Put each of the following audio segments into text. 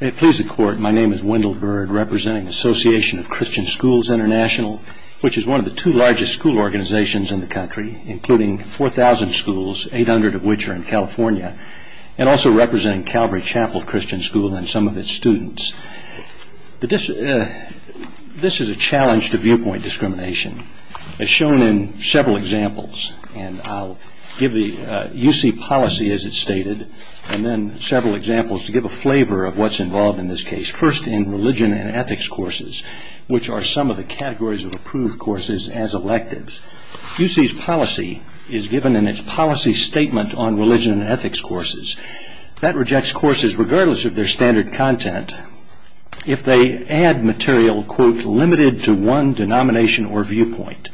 May it please the Court, my name is Wendell Byrd, representing the Association of Christian Schools International, which is one of the two largest school organizations in the country, including 4,000 schools, 800 of which are in California, and also representing Calvary Chapel Christian School and some of its students. This is a challenge to viewpoint discrimination, as shown in several examples. And I'll give the UC policy as it's stated, and then several examples to give a flavor of what's involved in this case. First, in religion and ethics courses, which are some of the categories of approved courses as electives. UC's policy is given in its policy statement on religion and ethics courses. That rejects courses, regardless of their standard content, if they add material, quote, limited to one denomination or viewpoint.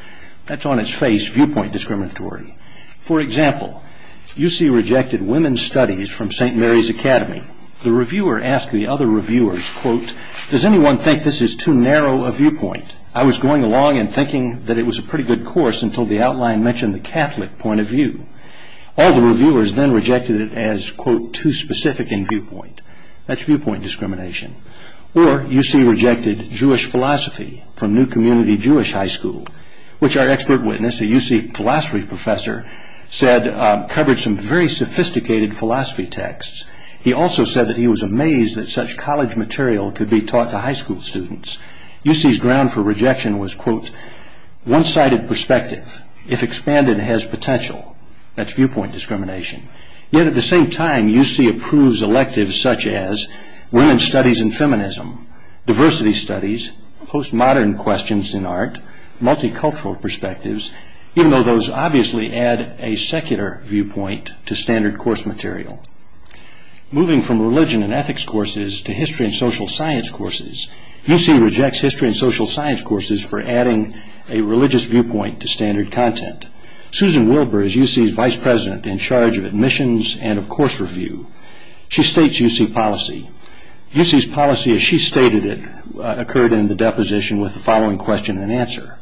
That's on its face, viewpoint discriminatory. For example, UC rejected women's studies from St. Mary's Academy. The reviewer asked the other reviewers, quote, Does anyone think this is too narrow a viewpoint? I was going along and thinking that it was a pretty good course until the outline mentioned the Catholic point of view. All the reviewers then rejected it as, quote, too specific in viewpoint. That's viewpoint discrimination. Or UC rejected Jewish philosophy from New Community Jewish High School, which our expert witness, a UC philosophy professor, said covered some very sophisticated philosophy texts. He also said that he was amazed that such college material could be taught to high school students. UC's ground for rejection was, quote, One-sided perspective, if expanded, has potential. That's viewpoint discrimination. Yet at the same time, UC approves electives such as women's studies in feminism, diversity studies, postmodern questions in art, multicultural perspectives, even though those obviously add a secular viewpoint to standard course material. Moving from religion and ethics courses to history and social science courses, UC rejects history and social science courses for adding a religious viewpoint to standard content. Susan Wilbur is UC's vice president in charge of admissions and of course review. She states UC policy. UC's policy as she stated it occurred in the deposition with the following question and answer.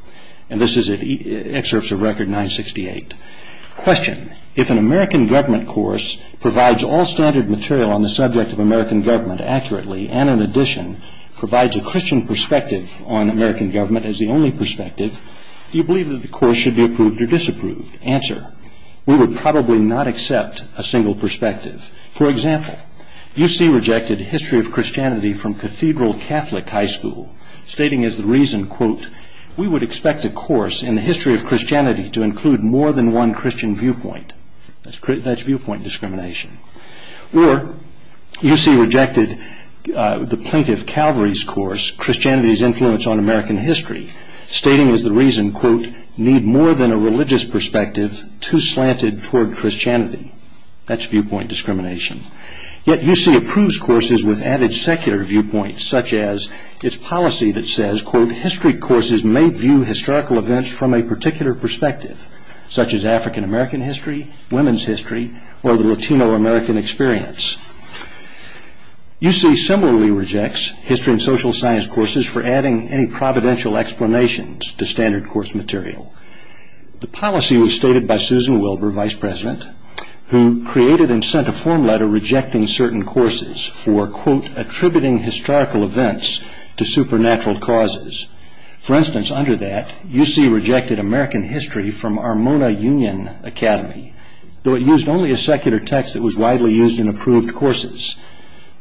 And this is at Excerpts of Record 968. Question. If an American government course provides all standard material on the subject of American government accurately, and in addition, provides a Christian perspective on American government as the only perspective, do you believe that the course should be approved or disapproved? Answer. We would probably not accept a single perspective. For example, UC rejected History of Christianity from Cathedral Catholic High School, stating as the reason, quote, We would expect a course in the history of Christianity to include more than one Christian viewpoint. That's viewpoint discrimination. Or UC rejected the Plaintiff Calvary's course, Christianity's Influence on American History, stating as the reason, quote, Need more than a religious perspective too slanted toward Christianity. That's viewpoint discrimination. Yet UC approves courses with added secular viewpoints, such as its policy that says, quote, History courses may view historical events from a particular perspective, such as African American history, women's history, or the Latino American experience. UC similarly rejects History and Social Science courses for adding any providential explanations to standard course material. The policy was stated by Susan Wilbur, Vice President, who created and sent a form letter rejecting certain courses for, quote, attributing historical events to supernatural causes. For instance, under that, UC rejected American History from Armona Union Academy, though it used only a secular text that was widely used in approved courses.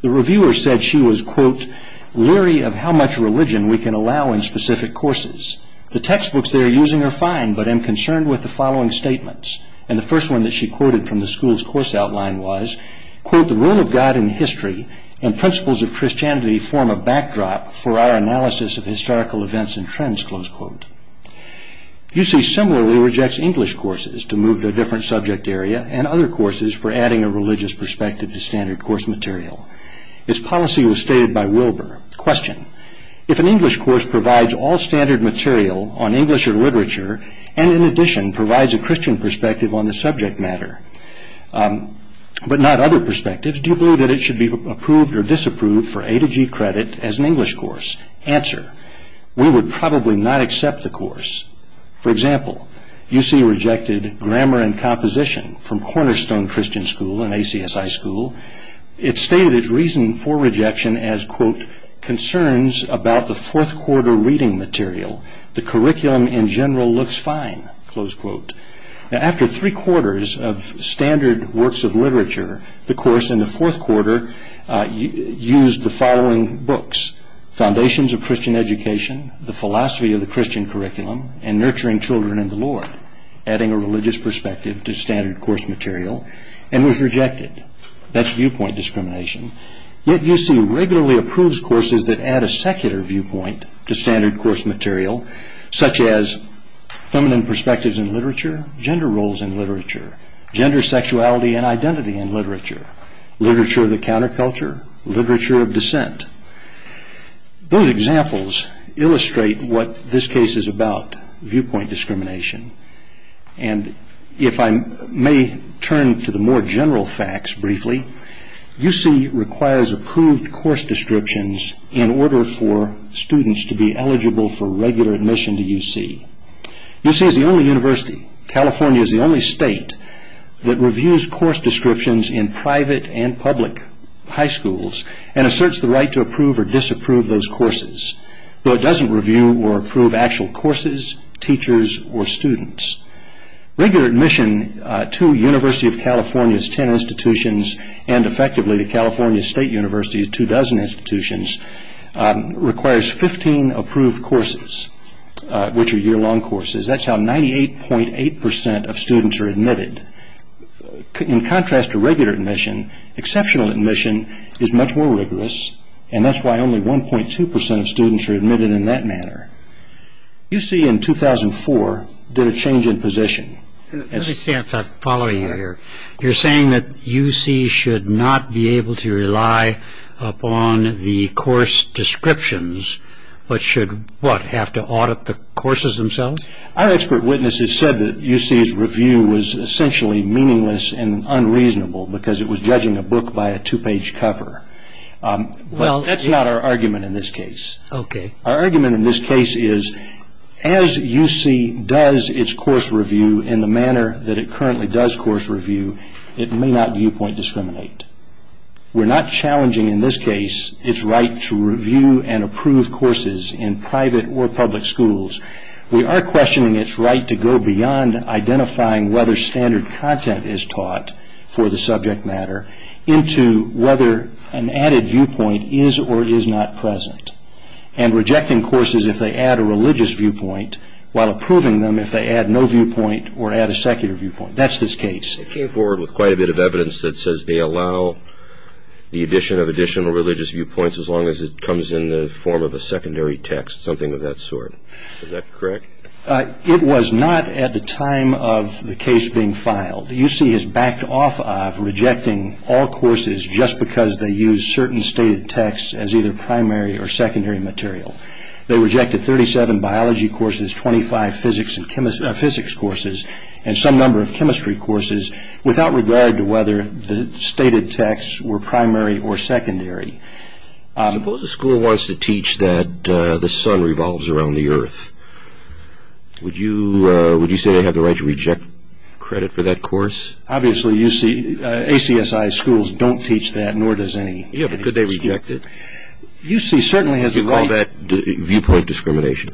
The reviewer said she was, quote, leery of how much religion we can allow in specific courses. The textbooks they are using are fine, but am concerned with the following statements. And the first one that she quoted from the school's course outline was, quote, The role of God in history and principles of Christianity form a backdrop for our analysis of historical events and trends, close quote. UC similarly rejects English courses to move to a different subject area and other courses for adding a religious perspective to standard course material. Its policy was stated by Wilbur. Question, if an English course provides all standard material on English or literature and in addition provides a Christian perspective on the subject matter, but not other perspectives, do you believe that it should be approved or disapproved for A to G credit as an English course? Answer, we would probably not accept the course. For example, UC rejected Grammar and Composition from Cornerstone Christian School, an ACSI school. It stated its reason for rejection as, quote, Concerns about the fourth quarter reading material. The curriculum in general looks fine, close quote. Now, after three quarters of standard works of literature, the course in the fourth quarter used the following books, Foundations of Christian Education, The Philosophy of the Christian Curriculum, and Nurturing Children in the Lord, adding a religious perspective to standard course material and was rejected. That's viewpoint discrimination. Yet UC regularly approves courses that add a secular viewpoint to standard course material, such as Feminine Perspectives in Literature, Gender Roles in Literature, Gender, Sexuality, and Identity in Literature, Literature of the Counterculture, Literature of Dissent. Those examples illustrate what this case is about, viewpoint discrimination. And if I may turn to the more general facts briefly, UC requires approved course descriptions in order for students to be eligible for regular admission to UC. UC is the only university, California is the only state, that reviews course descriptions in private and public high schools and asserts the right to approve or disapprove those courses, though it doesn't review or approve actual courses, teachers, or students. Regular admission to University of California's ten institutions, and effectively to California State University's two dozen institutions, requires 15 approved courses, which are year-long courses. That's how 98.8% of students are admitted. In contrast to regular admission, exceptional admission is much more rigorous, and that's why only 1.2% of students are admitted in that manner. UC in 2004 did a change in position. Let me say a fact following you here. You're saying that UC should not be able to rely upon the course descriptions, but should, what, have to audit the courses themselves? Our expert witnesses said that UC's review was essentially meaningless and unreasonable because it was judging a book by a two-page cover. But that's not our argument in this case. Our argument in this case is, as UC does its course review in the manner that it currently does course review, it may not viewpoint discriminate. We're not challenging in this case its right to review and approve courses in private or public schools. We are questioning its right to go beyond identifying whether standard content is taught for the subject matter into whether an added viewpoint is or is not present, and rejecting courses if they add a religious viewpoint, while approving them if they add no viewpoint or add a secular viewpoint. That's this case. It came forward with quite a bit of evidence that says they allow the addition of additional religious viewpoints as long as it comes in the form of a secondary text, something of that sort. Is that correct? It was not at the time of the case being filed. UC is backed off of rejecting all courses just because they use certain stated texts as either primary or secondary material. They rejected 37 biology courses, 25 physics courses, and some number of chemistry courses, without regard to whether the stated texts were primary or secondary. Suppose a school wants to teach that the sun revolves around the earth. Would you say they have the right to reject credit for that course? Obviously, ACSI schools don't teach that, nor does any. Yeah, but could they reject it? Do you call that viewpoint discrimination?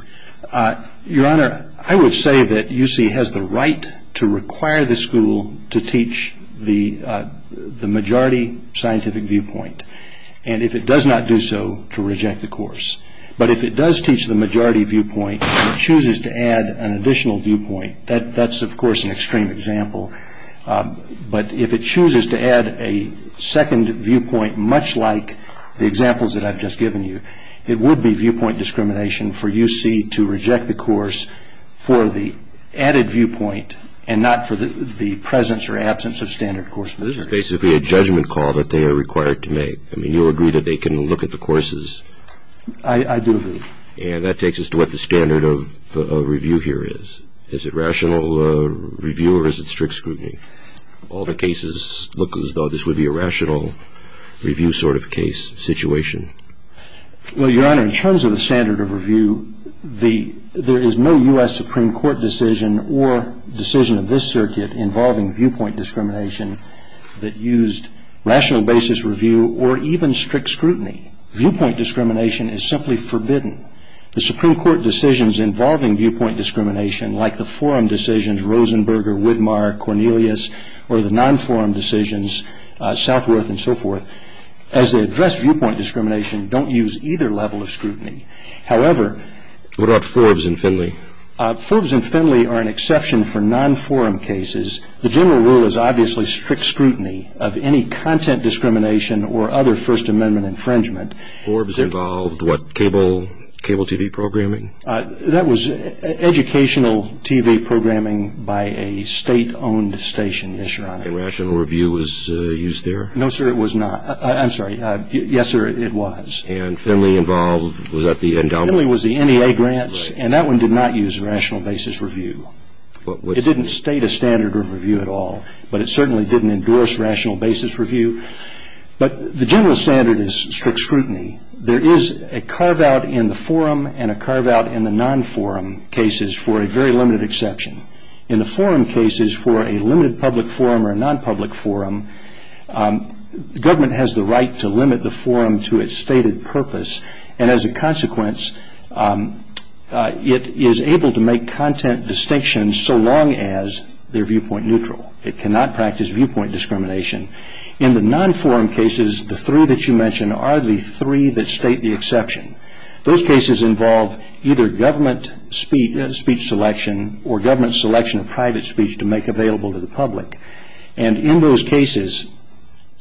Your Honor, I would say that UC has the right to require the school to teach the majority scientific viewpoint, and if it does not do so, to reject the course. But if it does teach the majority viewpoint and chooses to add an additional viewpoint, that's, of course, an extreme example. But if it chooses to add a second viewpoint, much like the examples that I've just given you, it would be viewpoint discrimination for UC to reject the course for the added viewpoint and not for the presence or absence of standard course material. This is basically a judgment call that they are required to make. I mean, you agree that they can look at the courses? I do agree. And that takes us to what the standard of review here is. Is it rational review or is it strict scrutiny? All the cases look as though this would be a rational review sort of case situation. Well, Your Honor, in terms of the standard of review, there is no U.S. Supreme Court decision or decision of this circuit involving viewpoint discrimination that used rational basis review or even strict scrutiny. Viewpoint discrimination is simply forbidden. The Supreme Court decisions involving viewpoint discrimination, like the forum decisions, Rosenberger, Widmar, Cornelius, or the non-forum decisions, Southworth, and so forth, as they address viewpoint discrimination, don't use either level of scrutiny. However, What about Forbes and Finley? Forbes and Finley are an exception for non-forum cases. The general rule is obviously strict scrutiny of any content discrimination or other First Amendment infringement. Forbes involved what, cable TV programming? That was educational TV programming by a state-owned station, yes, Your Honor. And rational review was used there? No, sir, it was not. I'm sorry. Yes, sir, it was. And Finley involved, was that the endowment? Finley was the NEA grants, and that one did not use rational basis review. It didn't state a standard of review at all, but it certainly didn't endorse rational basis review. But the general standard is strict scrutiny. There is a carve-out in the forum and a carve-out in the non-forum cases for a very limited exception. In the forum cases, for a limited public forum or a non-public forum, the government has the right to limit the forum to its stated purpose, and as a consequence, it is able to make content distinctions so long as they're viewpoint neutral. It cannot practice viewpoint discrimination. In the non-forum cases, the three that you mention are the three that state the exception. Those cases involve either government speech selection or government selection of private speech to make available to the public. And in those cases,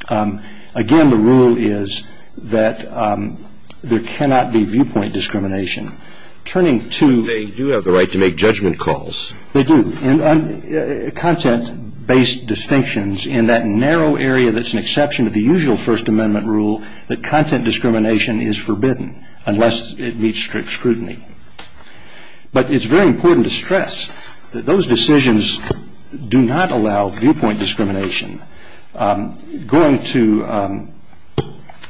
again, the rule is that there cannot be viewpoint discrimination. Turning to the- They do have the right to make judgment calls. They do. Content-based distinctions in that narrow area that's an exception to the usual First Amendment rule that content discrimination is forbidden unless it meets strict scrutiny. But it's very important to stress that those decisions do not allow viewpoint discrimination. Going to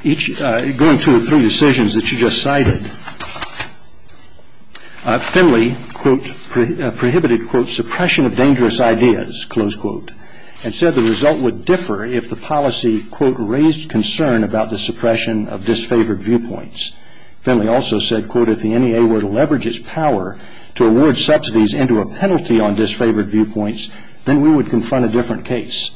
the three decisions that you just cited, Finley prohibited, quote, suppression of dangerous ideas, close quote, and said the result would differ if the policy, quote, raised concern about the suppression of disfavored viewpoints. Finley also said, quote, if the NEA were to leverage its power to award subsidies into a penalty on disfavored viewpoints, then we would confront a different case.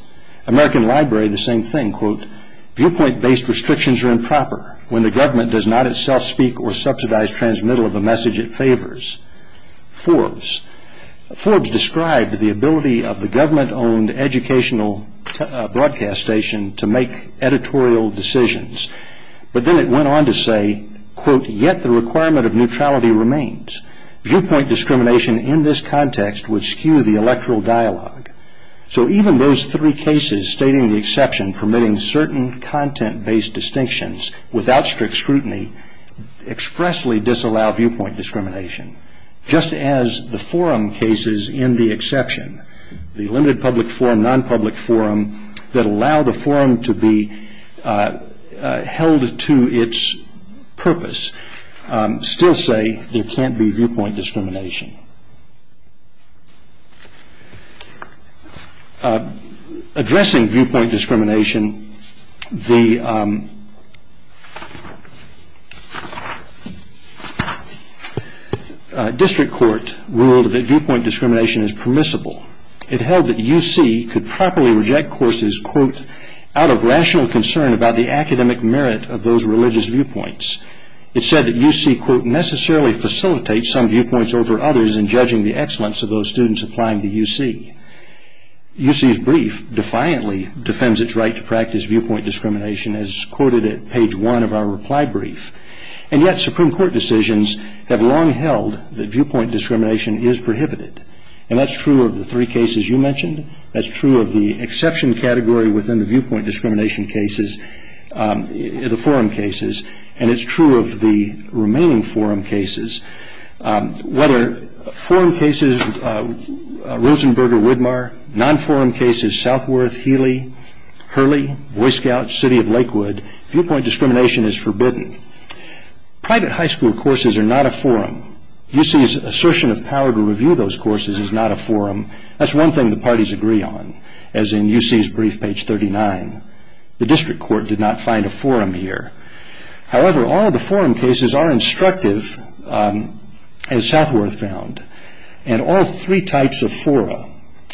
American Library, the same thing, quote, viewpoint-based restrictions are improper when the government does not itself speak or subsidize transmittal of a message it favors. Forbes. Forbes described the ability of the government-owned educational broadcast station to make editorial decisions. But then it went on to say, quote, yet the requirement of neutrality remains. Viewpoint discrimination in this context would skew the electoral dialogue. So even those three cases stating the exception permitting certain content-based distinctions without strict scrutiny expressly disallow viewpoint discrimination, just as the forum cases in the exception, the limited public forum, non-public forum, that allow the forum to be held to its purpose, still say there can't be viewpoint discrimination. Addressing viewpoint discrimination, the district court ruled that viewpoint discrimination is permissible. It held that UC could properly reject courses, quote, about the academic merit of those religious viewpoints. It said that UC, quote, necessarily facilitates some viewpoints over others in judging the excellence of those students applying to UC. UC's brief defiantly defends its right to practice viewpoint discrimination as quoted at page one of our reply brief. And yet Supreme Court decisions have long held that viewpoint discrimination is prohibited. And that's true of the three cases you mentioned. That's true of the exception category within the viewpoint discrimination cases, the forum cases, and it's true of the remaining forum cases. Whether forum cases Rosenberger-Widmar, non-forum cases Southworth, Healy, Hurley, Boy Scouts, City of Lakewood, viewpoint discrimination is forbidden. Private high school courses are not a forum. UC's assertion of power to review those courses is not a forum. That's one thing the parties agree on, as in UC's brief, page 39. The district court did not find a forum here. However, all of the forum cases are instructive, as Southworth found, and all three types of fora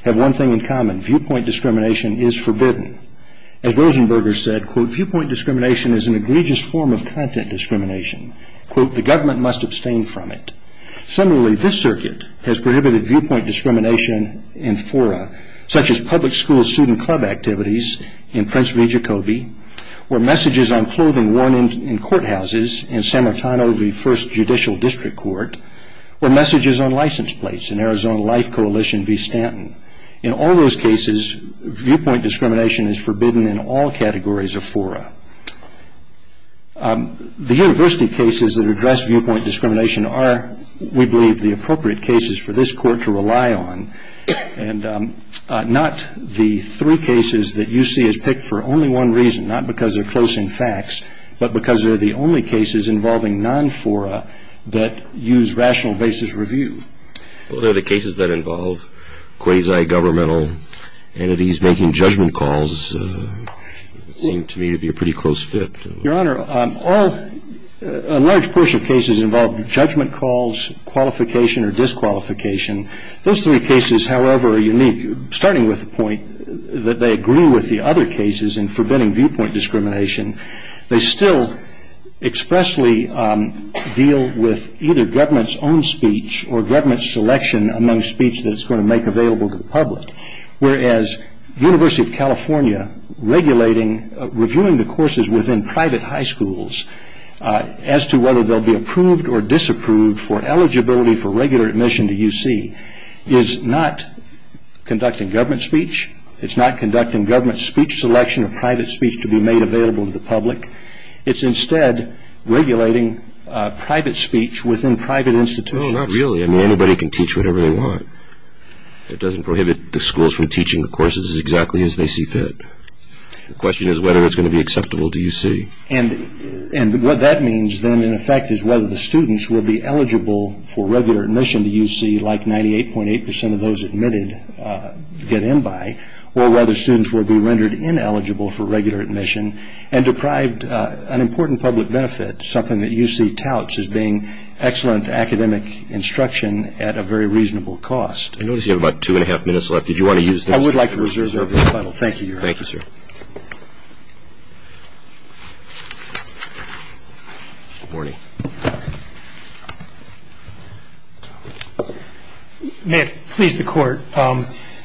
have one thing in common. Viewpoint discrimination is forbidden. As Rosenberger said, quote, viewpoint discrimination is an egregious form of content discrimination. Quote, the government must abstain from it. Similarly, this circuit has prohibited viewpoint discrimination in fora, such as public school student club activities in Prince V. Jacoby, or messages on clothing worn in courthouses in San Martino v. First Judicial District Court, or messages on license plates in Arizona Life Coalition v. Stanton. In all those cases, viewpoint discrimination is forbidden in all categories of fora. The university cases that address viewpoint discrimination are, we believe, the appropriate cases for this court to rely on, and not the three cases that UC has picked for only one reason, not because they're close in facts, but because they're the only cases involving non-fora that use rational basis review. Well, they're the cases that involve quasi-governmental entities making judgment calls. It seemed to me to be a pretty close fit. Your Honor, a large portion of cases involve judgment calls, qualification, or disqualification. Those three cases, however, are unique, starting with the point that they agree with the other cases in forbidding viewpoint discrimination. They still expressly deal with either government's own speech or government's selection among speech that it's going to make available to the public, whereas University of California regulating, reviewing the courses within private high schools as to whether they'll be approved or disapproved for eligibility for regular admission to UC is not conducting government speech. It's not conducting government speech selection or private speech to be made available to the public. It's instead regulating private speech within private institutions. Well, not really. I mean, anybody can teach whatever they want. It doesn't prohibit the schools from teaching the courses exactly as they see fit. The question is whether it's going to be acceptable to UC. And what that means then, in effect, is whether the students will be eligible for regular admission to UC like 98.8% of those admitted get in by, or whether students will be rendered ineligible for regular admission and deprived an important public benefit, something that UC touts as being excellent academic instruction at a very reasonable cost. I notice you have about two and a half minutes left. I would like to reserve this panel. Thank you, Your Honor. Thank you, sir. Good morning. May it please the Court,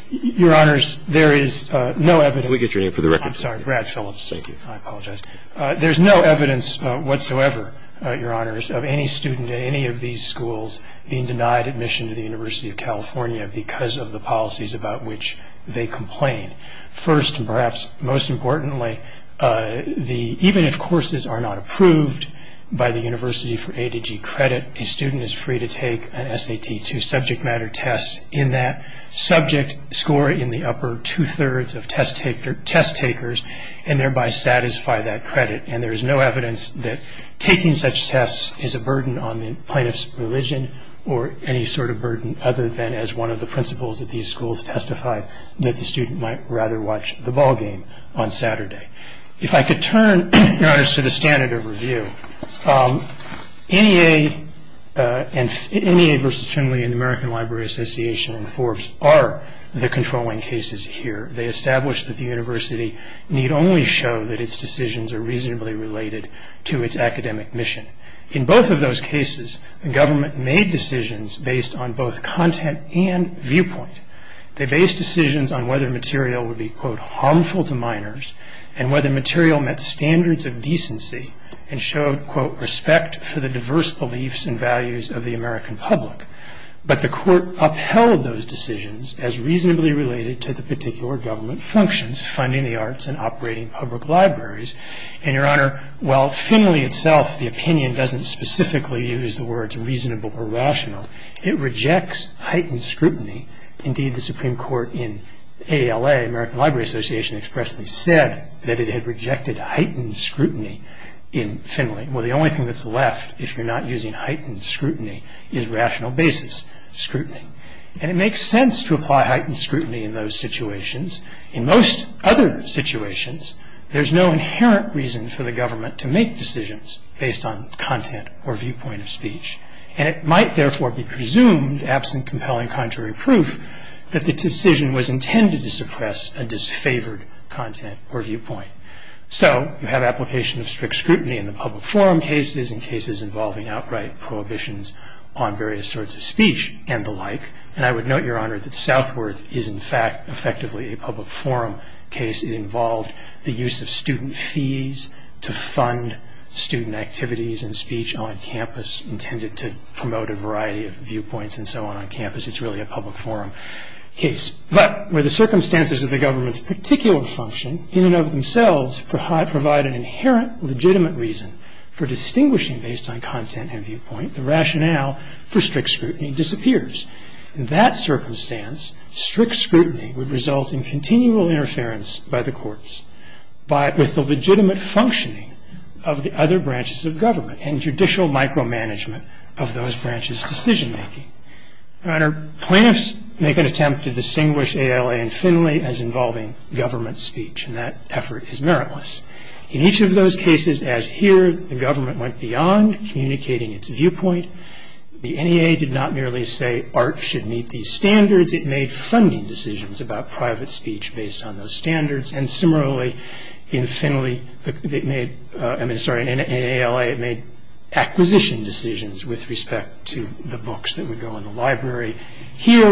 Your Honors, there is no evidence. Can we get your name for the record? I'm sorry, Brad Phillips. Thank you. I apologize. There's no evidence whatsoever, Your Honors, of any student at any of these schools being denied admission to the University of California because of the policies about which they complain. First, and perhaps most importantly, even if courses are not approved by the University for A to G credit, a student is free to take an SAT2 subject matter test in that subject score in the upper two-thirds of test takers and thereby satisfy that credit. And there is no evidence that taking such tests is a burden on the plaintiff's religion or any sort of burden other than as one of the principals at these schools testified that the student might rather watch the ball game on Saturday. If I could turn, Your Honors, to the standard of review, NEA versus Finley and the American Library Association and Forbes are the controlling cases here. They establish that the university need only show that its decisions are reasonably related to its academic mission. In both of those cases, the government made decisions based on both content and viewpoint. They based decisions on whether material would be, quote, respect for the diverse beliefs and values of the American public. But the court upheld those decisions as reasonably related to the particular government functions, funding the arts and operating public libraries. And, Your Honor, while Finley itself, the opinion, doesn't specifically use the words reasonable or rational, it rejects heightened scrutiny. Indeed, the Supreme Court in ALA, American Library Association, expressly said that it had rejected heightened scrutiny in Finley. Well, the only thing that's left, if you're not using heightened scrutiny, is rational basis scrutiny. And it makes sense to apply heightened scrutiny in those situations. In most other situations, there's no inherent reason for the government to make decisions based on content or viewpoint of speech. And it might, therefore, be presumed, absent compelling contrary proof, that the decision was intended to suppress a disfavored content or viewpoint. So you have application of strict scrutiny in the public forum cases and cases involving outright prohibitions on various sorts of speech and the like. And I would note, Your Honor, that Southworth is, in fact, effectively a public forum case. It involved the use of student fees to fund student activities and speech on campus, intended to promote a variety of viewpoints and so on on campus. It's really a public forum case. But where the circumstances of the government's particular function, in and of themselves, provide an inherent legitimate reason for distinguishing based on content and viewpoint, the rationale for strict scrutiny disappears. In that circumstance, strict scrutiny would result in continual interference by the courts with the legitimate functioning of the other branches of government and judicial micromanagement of those branches' decision-making. Your Honor, plaintiffs make an attempt to distinguish ALA and Finley as involving government speech, and that effort is meritless. In each of those cases, as here, the government went beyond communicating its viewpoint. The NEA did not merely say, Art should meet these standards. It made funding decisions about private speech based on those standards. And similarly, in Finley, I mean, sorry, in ALA, it made acquisition decisions Here,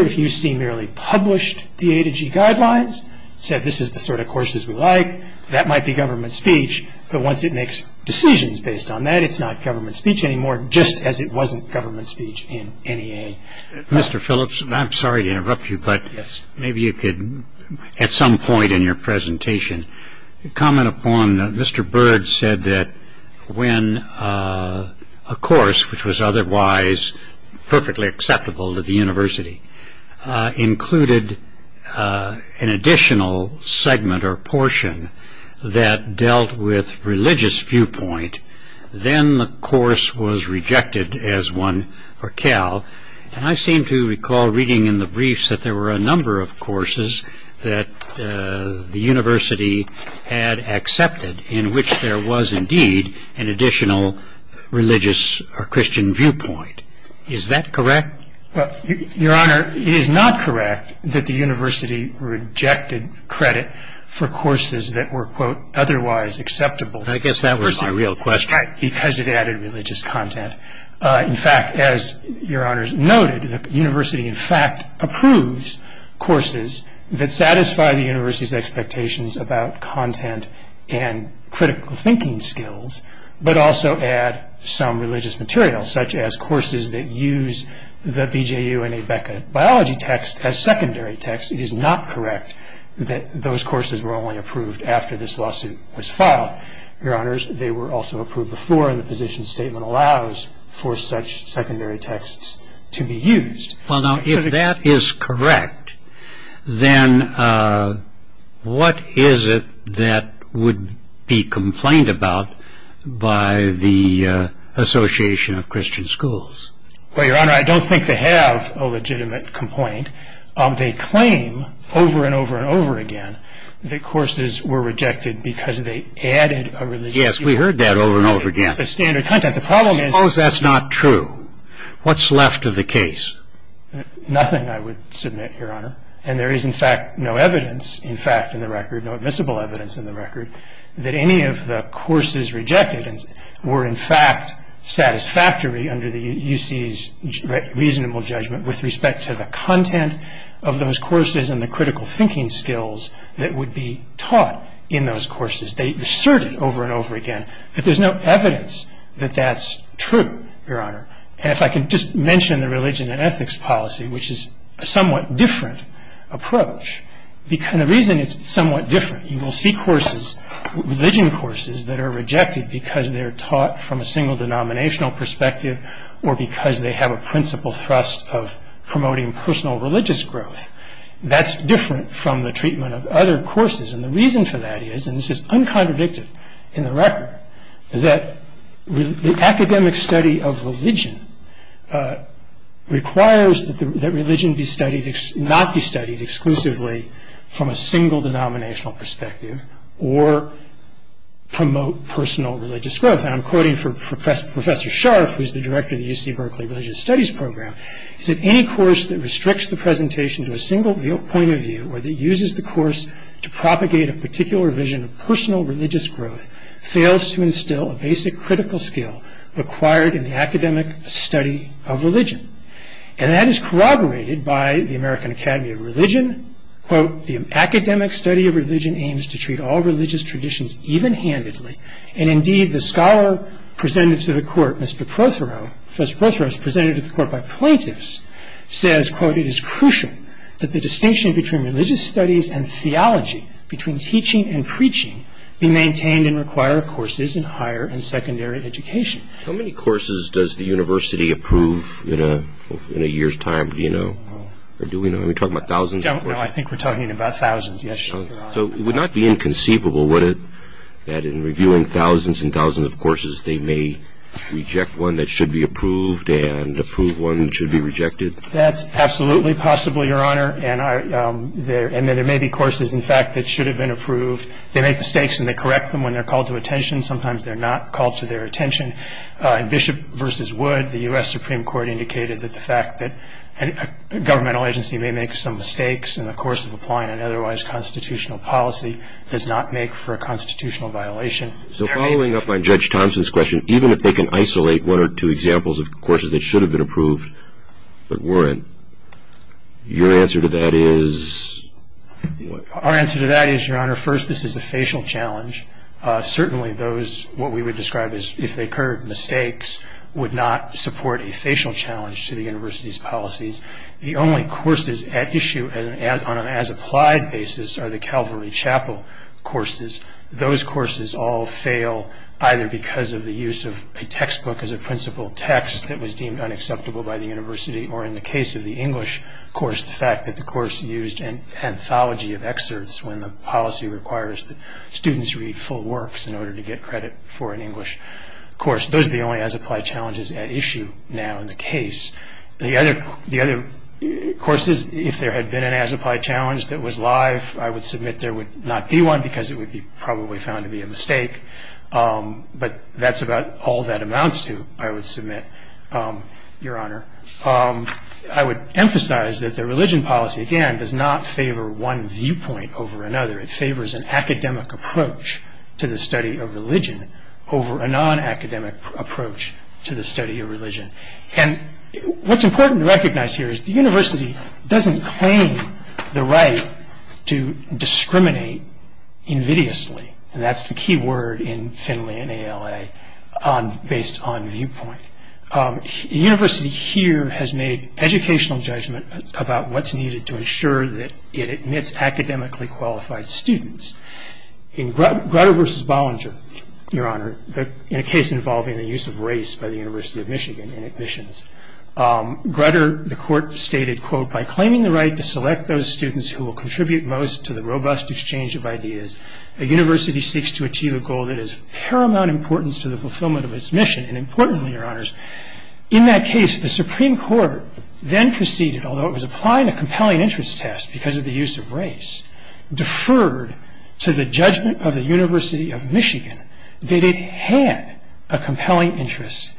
if you see merely published the A to G guidelines, said this is the sort of courses we like, that might be government speech. But once it makes decisions based on that, it's not government speech anymore, just as it wasn't government speech in NEA. Mr. Phillips, I'm sorry to interrupt you, but maybe you could, at some point in your presentation, comment upon, Mr. Byrd said that when a course, which was otherwise perfectly acceptable to the university, included an additional segment or portion that dealt with religious viewpoint, then the course was rejected as one for Cal. And I seem to recall reading in the briefs that there were a number of courses that the university had accepted, in which there was indeed an additional religious or Christian viewpoint. Is that correct? Well, Your Honor, it is not correct that the university rejected credit for courses that were, quote, otherwise acceptable. I guess that was my real question. Because it added religious content. courses that satisfy the university's expectations about content and critical thinking skills, but also add some religious material, such as courses that use the BJU and ABECA biology text as secondary text. It is not correct that those courses were only approved after this lawsuit was filed. Your Honors, they were also approved before, and the position statement allows for such secondary texts to be used. Well, now, if that is correct, then what is it that would be complained about by the Association of Christian Schools? Well, Your Honor, I don't think they have a legitimate complaint. They claim, over and over and over again, that courses were rejected because they added a religious viewpoint. Yes, we heard that over and over again. It's a standard content. Suppose that's not true. What's left of the case? Nothing, I would submit, Your Honor. And there is, in fact, no evidence, in fact, in the record, no admissible evidence in the record, that any of the courses rejected were, in fact, satisfactory under the UC's reasonable judgment with respect to the content of those courses and the critical thinking skills that would be taught in those courses. They asserted, over and over again, that there's no evidence that that's true, Your Honor. And if I can just mention the religion and ethics policy, which is a somewhat different approach, and the reason it's somewhat different, you will see courses, religion courses, that are rejected because they're taught from a single denominational perspective or because they have a principal thrust of promoting personal religious growth. That's different from the treatment of other courses. And the reason for that is, and this is uncontradicted in the record, that the academic study of religion requires that religion be studied, not be studied exclusively from a single denominational perspective or promote personal religious growth. And I'm quoting Professor Scharf, who's the director of the UC Berkeley Religious Studies Program. He said, Any course that restricts the presentation to a single point of view or that uses the course to propagate a particular vision of personal religious growth fails to instill a basic critical skill required in the academic study of religion. And that is corroborated by the American Academy of Religion. Quote, The academic study of religion aims to treat all religious traditions even-handedly. And indeed, the scholar presented to the court, Mr. Prothero, Professor Prothero is presented to the court by plaintiffs, says, quote, It is crucial that the distinction between religious studies and theology, between teaching and preaching, be maintained and require courses in higher and secondary education. How many courses does the university approve in a year's time? Do you know? Do we know? Are we talking about thousands? Don't know. I think we're talking about thousands, yes, Your Honor. So it would not be inconceivable, would it, that in reviewing thousands and thousands of courses, they may reject one that should be approved and approve one that should be rejected? That's absolutely possible, Your Honor. And there may be courses, in fact, that should have been approved. They make mistakes and they correct them when they're called to attention. Sometimes they're not called to their attention. In Bishop v. Wood, the U.S. Supreme Court indicated that the fact that a governmental agency may make some mistakes in the course of applying an otherwise constitutional policy does not make for a constitutional violation. So following up on Judge Thompson's question, even if they can isolate one or two examples of courses that should have been approved but weren't, your answer to that is? Our answer to that is, Your Honor, first, this is a facial challenge. Certainly those, what we would describe as if they occurred, mistakes, would not support a facial challenge to the university's policies. The only courses at issue on an as-applied basis are the Calvary Chapel courses. Those courses all fail either because of the use of a textbook as a principal text that was deemed unacceptable by the university, or in the case of the English course, the fact that the course used an anthology of excerpts when the policy requires that students read full works in order to get credit for an English course. Those are the only as-applied challenges at issue now in the case. The other courses, if there had been an as-applied challenge that was live, I would submit there would not be one because it would be probably found to be a mistake. But that's about all that amounts to, I would submit, Your Honor. I would emphasize that the religion policy, again, does not favor one viewpoint over another. It favors an academic approach to the study of religion over a non-academic approach to the study of religion. And what's important to recognize here is the university doesn't claim the right to discriminate invidiously. And that's the key word in Finley and ALA based on viewpoint. The university here has made educational judgment about what's needed to ensure that it admits academically qualified students. In Grutter v. Bollinger, Your Honor, in a case involving the use of race by the University of Michigan in admissions, Grutter, the court stated, quote, by claiming the right to select those students who will contribute most to the robust exchange of ideas, a university seeks to achieve a goal that is of paramount importance to the fulfillment of its mission. And importantly, Your Honors, in that case, the Supreme Court then proceeded, although it was applying a compelling interest test because of the use of race, deferred to the judgment of the University of Michigan that it had a compelling interest.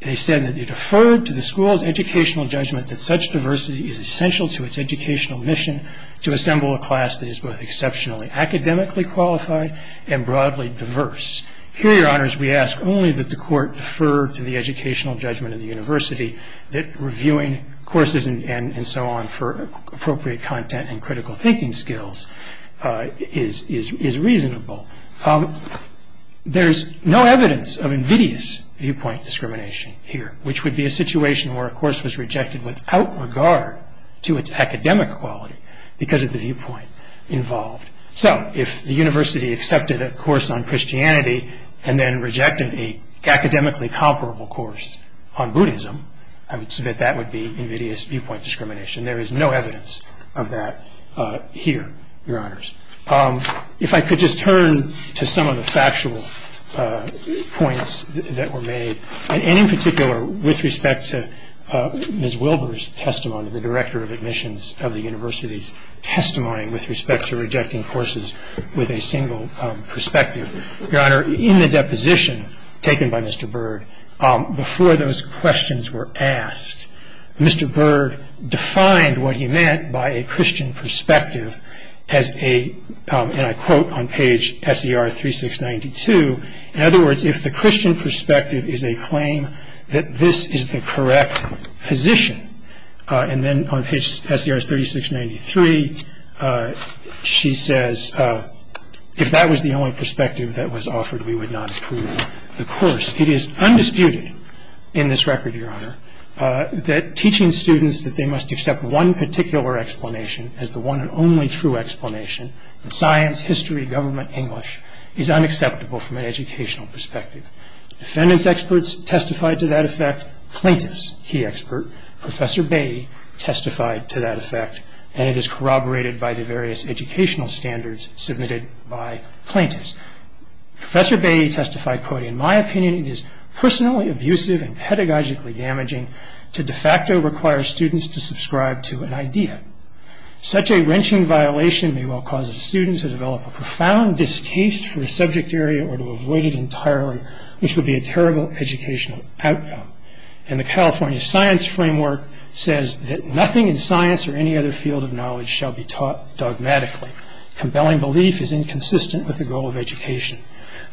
They said that they deferred to the school's educational judgment that such diversity is essential to its educational mission to assemble a class that is both exceptionally academically qualified and broadly diverse. Here, Your Honors, we ask only that the court defer to the educational judgment of the university that reviewing courses and so on for appropriate content and critical thinking skills is reasonable. There's no evidence of invidious viewpoint discrimination here, which would be a situation where a course was rejected without regard to its academic quality because of the viewpoint involved. So if the university accepted a course on Christianity and then rejected an academically comparable course on Buddhism, I would submit that would be invidious viewpoint discrimination. There is no evidence of that here, Your Honors. If I could just turn to some of the factual points that were made, and in particular with respect to Ms. Wilbur's testimony, the director of admissions of the university's testimony with respect to rejecting courses with a single perspective. Your Honor, in the deposition taken by Mr. Bird, before those questions were asked, Mr. Bird defined what he meant by a Christian perspective as a, and I quote on page SER 3692, in other words, if the Christian perspective is a claim that this is the correct position, and then on page SER 3693, she says, if that was the only perspective that was offered, we would not approve the course. It is undisputed in this record, Your Honor, that teaching students that they must accept one particular explanation as the one and only true explanation in science, history, government, English, is unacceptable from an educational perspective. Defendants' experts testified to that effect. Plaintiffs, he expert. Professor Bay testified to that effect, and it is corroborated by the various educational standards submitted by plaintiffs. Professor Bay testified, quote, in my opinion, it is personally abusive and pedagogically damaging to de facto require students to subscribe to an idea. Such a wrenching violation may well cause a student to develop a profound distaste for a subject area or to avoid it entirely, which would be a terrible educational outcome. And the California science framework says that nothing in science or any other field of knowledge shall be taught dogmatically. Compelling belief is inconsistent with the goal of education.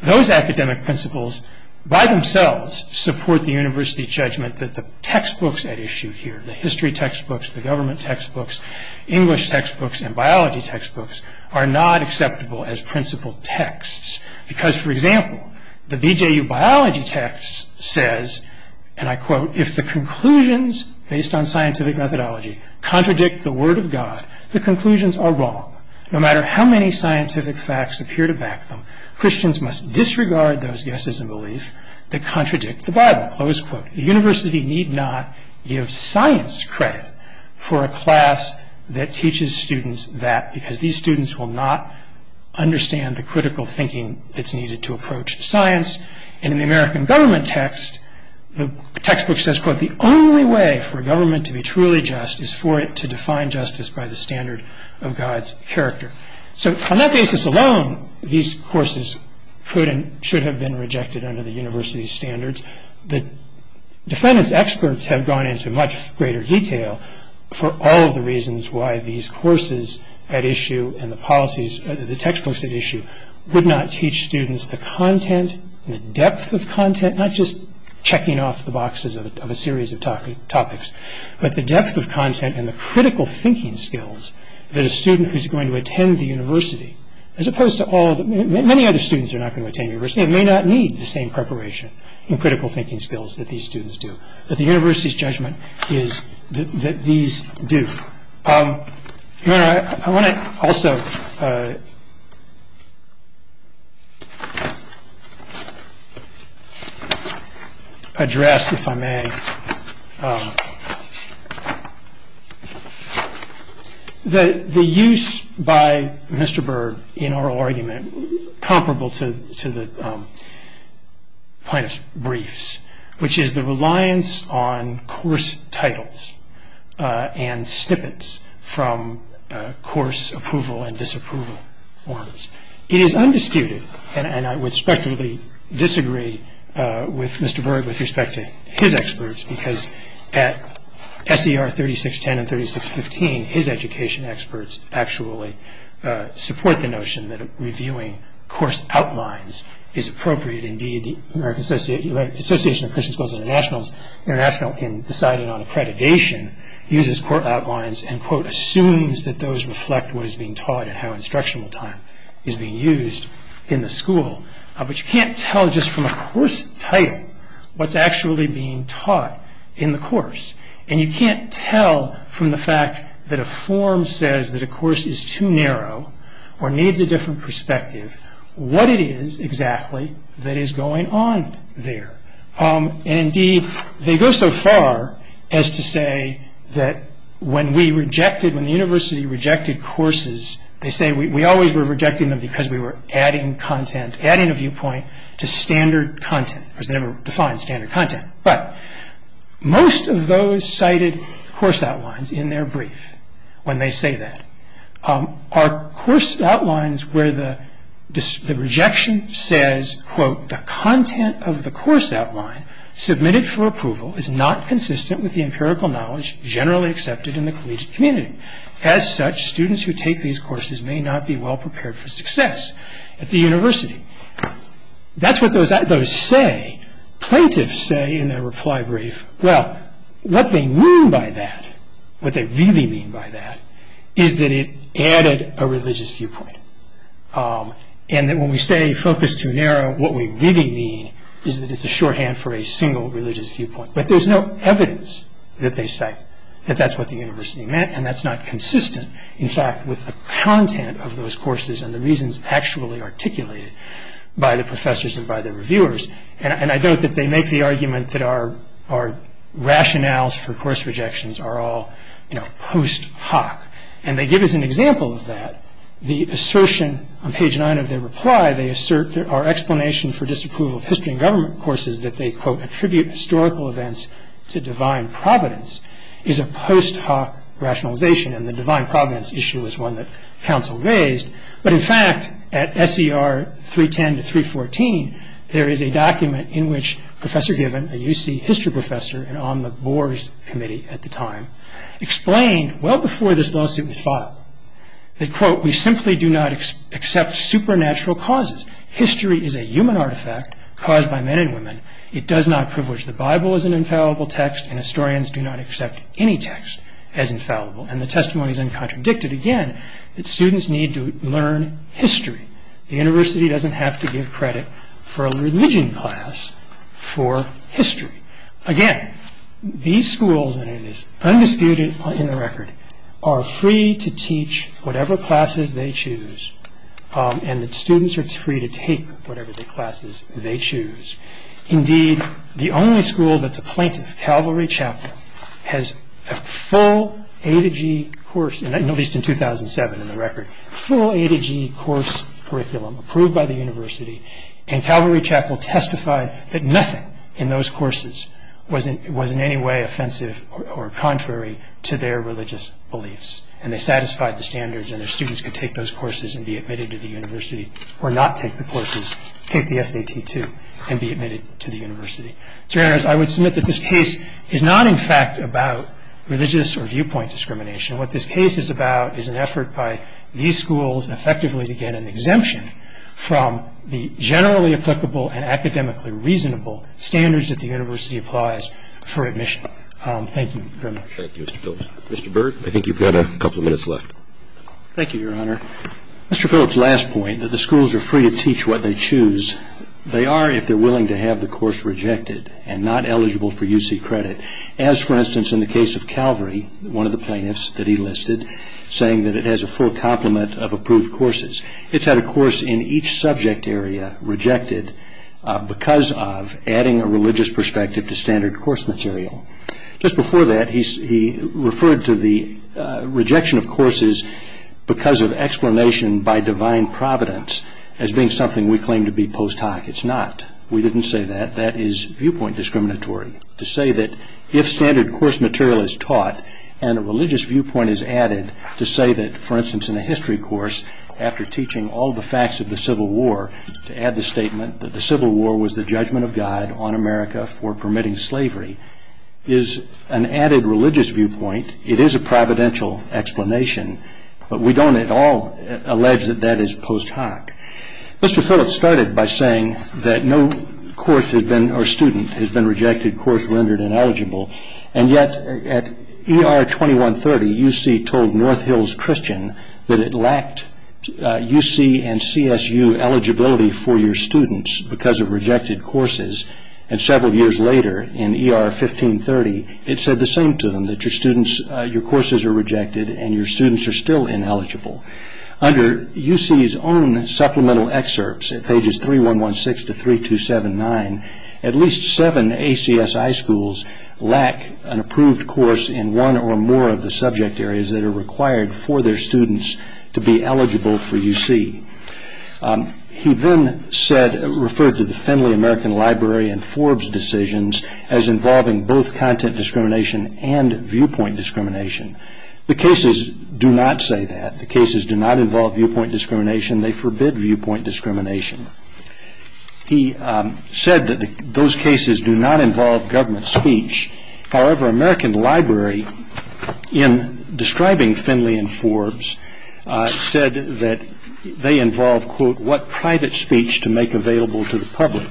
Those academic principles by themselves support the university judgment that the textbooks at issue here, the history textbooks, the government textbooks, English textbooks, and biology textbooks, are not acceptable as principled texts. Because, for example, the BJU biology text says, and I quote, if the conclusions based on scientific methodology contradict the word of God, the conclusions are wrong. No matter how many scientific facts appear to back them, Christians must disregard those guesses and beliefs that contradict the Bible. Close quote. The university need not give science credit for a class that teaches students that because these students will not understand the critical thinking that's needed to approach science. And in the American government text, the textbook says, quote, for a government to be truly just is for it to define justice by the standard of God's character. So on that basis alone, these courses could and should have been rejected under the university's standards. The defendant's experts have gone into much greater detail for all of the reasons why these courses at issue and the policies, the textbooks at issue, would not teach students the content, the depth of content, not just checking off the boxes of a series of topics, but the depth of content and the critical thinking skills that a student who's going to attend the university, as opposed to all the... Many other students are not going to attend university and may not need the same preparation and critical thinking skills that these students do. But the university's judgment is that these do. I want to also... address, if I may, the use by Mr. Berg in oral argument comparable to the plaintiff's briefs, which is the reliance on course titles and snippets from course approval and disapproval forms. It is undisputed, and I would respectfully disagree with Mr. Berg with respect to his experts, because at S.E.R. 3610 and 3615, his education experts actually support the notion that reviewing course outlines is appropriate. Indeed, the American Association of Christian Schools International in deciding on accreditation uses course outlines and, quote, is being used in the school. But you can't tell just from a course title what's actually being taught in the course. And you can't tell from the fact that a form says that a course is too narrow or needs a different perspective what it is exactly that is going on there. And indeed, they go so far as to say that when we rejected... When the university rejected courses, they say we always were rejecting them because we were adding content, adding a viewpoint to standard content. Of course, they never defined standard content. But most of those cited course outlines in their brief, when they say that, are course outlines where the rejection says, quote, the content of the course outline submitted for approval is not consistent with the empirical knowledge generally accepted in the collegiate community. As such, students who take these courses may not be well prepared for success at the university. That's what those say. Plaintiffs say in their reply brief, well, what they mean by that, what they really mean by that, is that it added a religious viewpoint. And that when we say focus too narrow, what we really mean is that it's a shorthand for a single religious viewpoint. But there's no evidence that they cite that that's what the university meant and that's not consistent, in fact, with the content of those courses and the reasons actually articulated by the professors and by the reviewers. And I note that they make the argument that our rationales for course rejections are all, you know, post hoc. And they give us an example of that. The assertion on page 9 of their reply, they assert that our explanation for disapproval of history and government courses that they, quote, attribute historical events to divine providence is a post hoc rationalization. And the divine providence issue is one that counsel raised. But in fact, at SER 310 to 314, there is a document in which Professor Given, a UC history professor and on the Boers committee at the time, explained well before this lawsuit was filed. They quote, we simply do not accept supernatural causes. History is a human artifact caused by men and women. It does not privilege the Bible as an infallible text and historians do not accept any text as infallible. And the testimony is uncontradicted, again, that students need to learn history. The university doesn't have to give credit for a religion class for history. Again, these schools, and it is undisputed in the record, are free to teach whatever classes they choose and that students are free to take whatever classes they choose. Indeed, the only school that's a plaintiff, Calvary Chapel, has a full A to G course, at least in 2007 in the record, full A to G course curriculum approved by the university and Calvary Chapel testified that nothing in those courses was in any way offensive or contrary to their religious beliefs. And they satisfied the standards and their students could take those courses and be admitted to the university or not take the courses, take the SAT II and be admitted to the university. I would submit that this case is not in fact about religious or viewpoint discrimination. What this case is about is an effort by these schools effectively to get an exemption from the generally applicable and academically reasonable standards that the university applies for admission. Thank you very much. Thank you, Mr. Phillips. Mr. Byrd, I think you've got a couple of minutes left. Thank you, Your Honor. Mr. Phillips' last point, that the schools are free to teach what they choose, they are if they're willing to have the course rejected. And not eligible for UC credit. As, for instance, in the case of Calvary, one of the plaintiffs that he listed, saying that it has a full complement of approved courses. It's had a course in each subject area rejected because of adding a religious perspective to standard course material. Just before that, he referred to the rejection of courses because of explanation by divine providence as being something we claim to be post hoc. It's not. We didn't say that. That is viewpoint discriminatory. To say that if standard course material is taught and a religious viewpoint is added to say that, for instance, in a history course, after teaching all the facts of the Civil War, to add the statement that the Civil War was the judgment of God on America for permitting slavery is an added religious viewpoint. It is a providential explanation. But we don't at all allege that that is post hoc. Mr. Phillips started by saying that no course or student has been rejected, course rendered ineligible. And yet, at ER 2130, UC told North Hills Christian that it lacked UC and CSU eligibility for your students because of rejected courses. And several years later, in ER 1530, it said the same to them, that your courses are rejected and your students are still ineligible. Under UC's own supplemental excerpts at pages 3116 to 3279, at least seven ACSI schools lack an approved course in one or more of the subject areas that are required for their students to be eligible for UC. He then said, referred to the Finley American Library and Forbes decisions as involving both content discrimination and viewpoint discrimination. The cases do not say that. The cases do not involve viewpoint discrimination. They forbid viewpoint discrimination. He said that those cases do not involve government speech. However, American Library, in describing Finley and Forbes, said that they involve, quote, what private speech to make available to the public.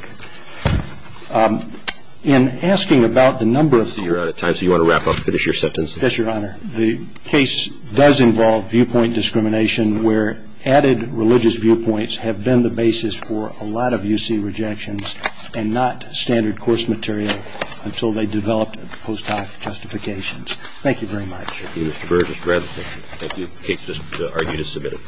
In asking about the number of... I see you're out of time, so you want to wrap up and finish your sentence? Yes, Your Honor. The case does involve viewpoint discrimination where added religious viewpoints have been the basis for a lot of UC rejections and not standard course material until they developed post hoc justifications. Thank you very much. Thank you, Mr. Berg. Mr. Bradley, thank you. Thank you. The case is submitted.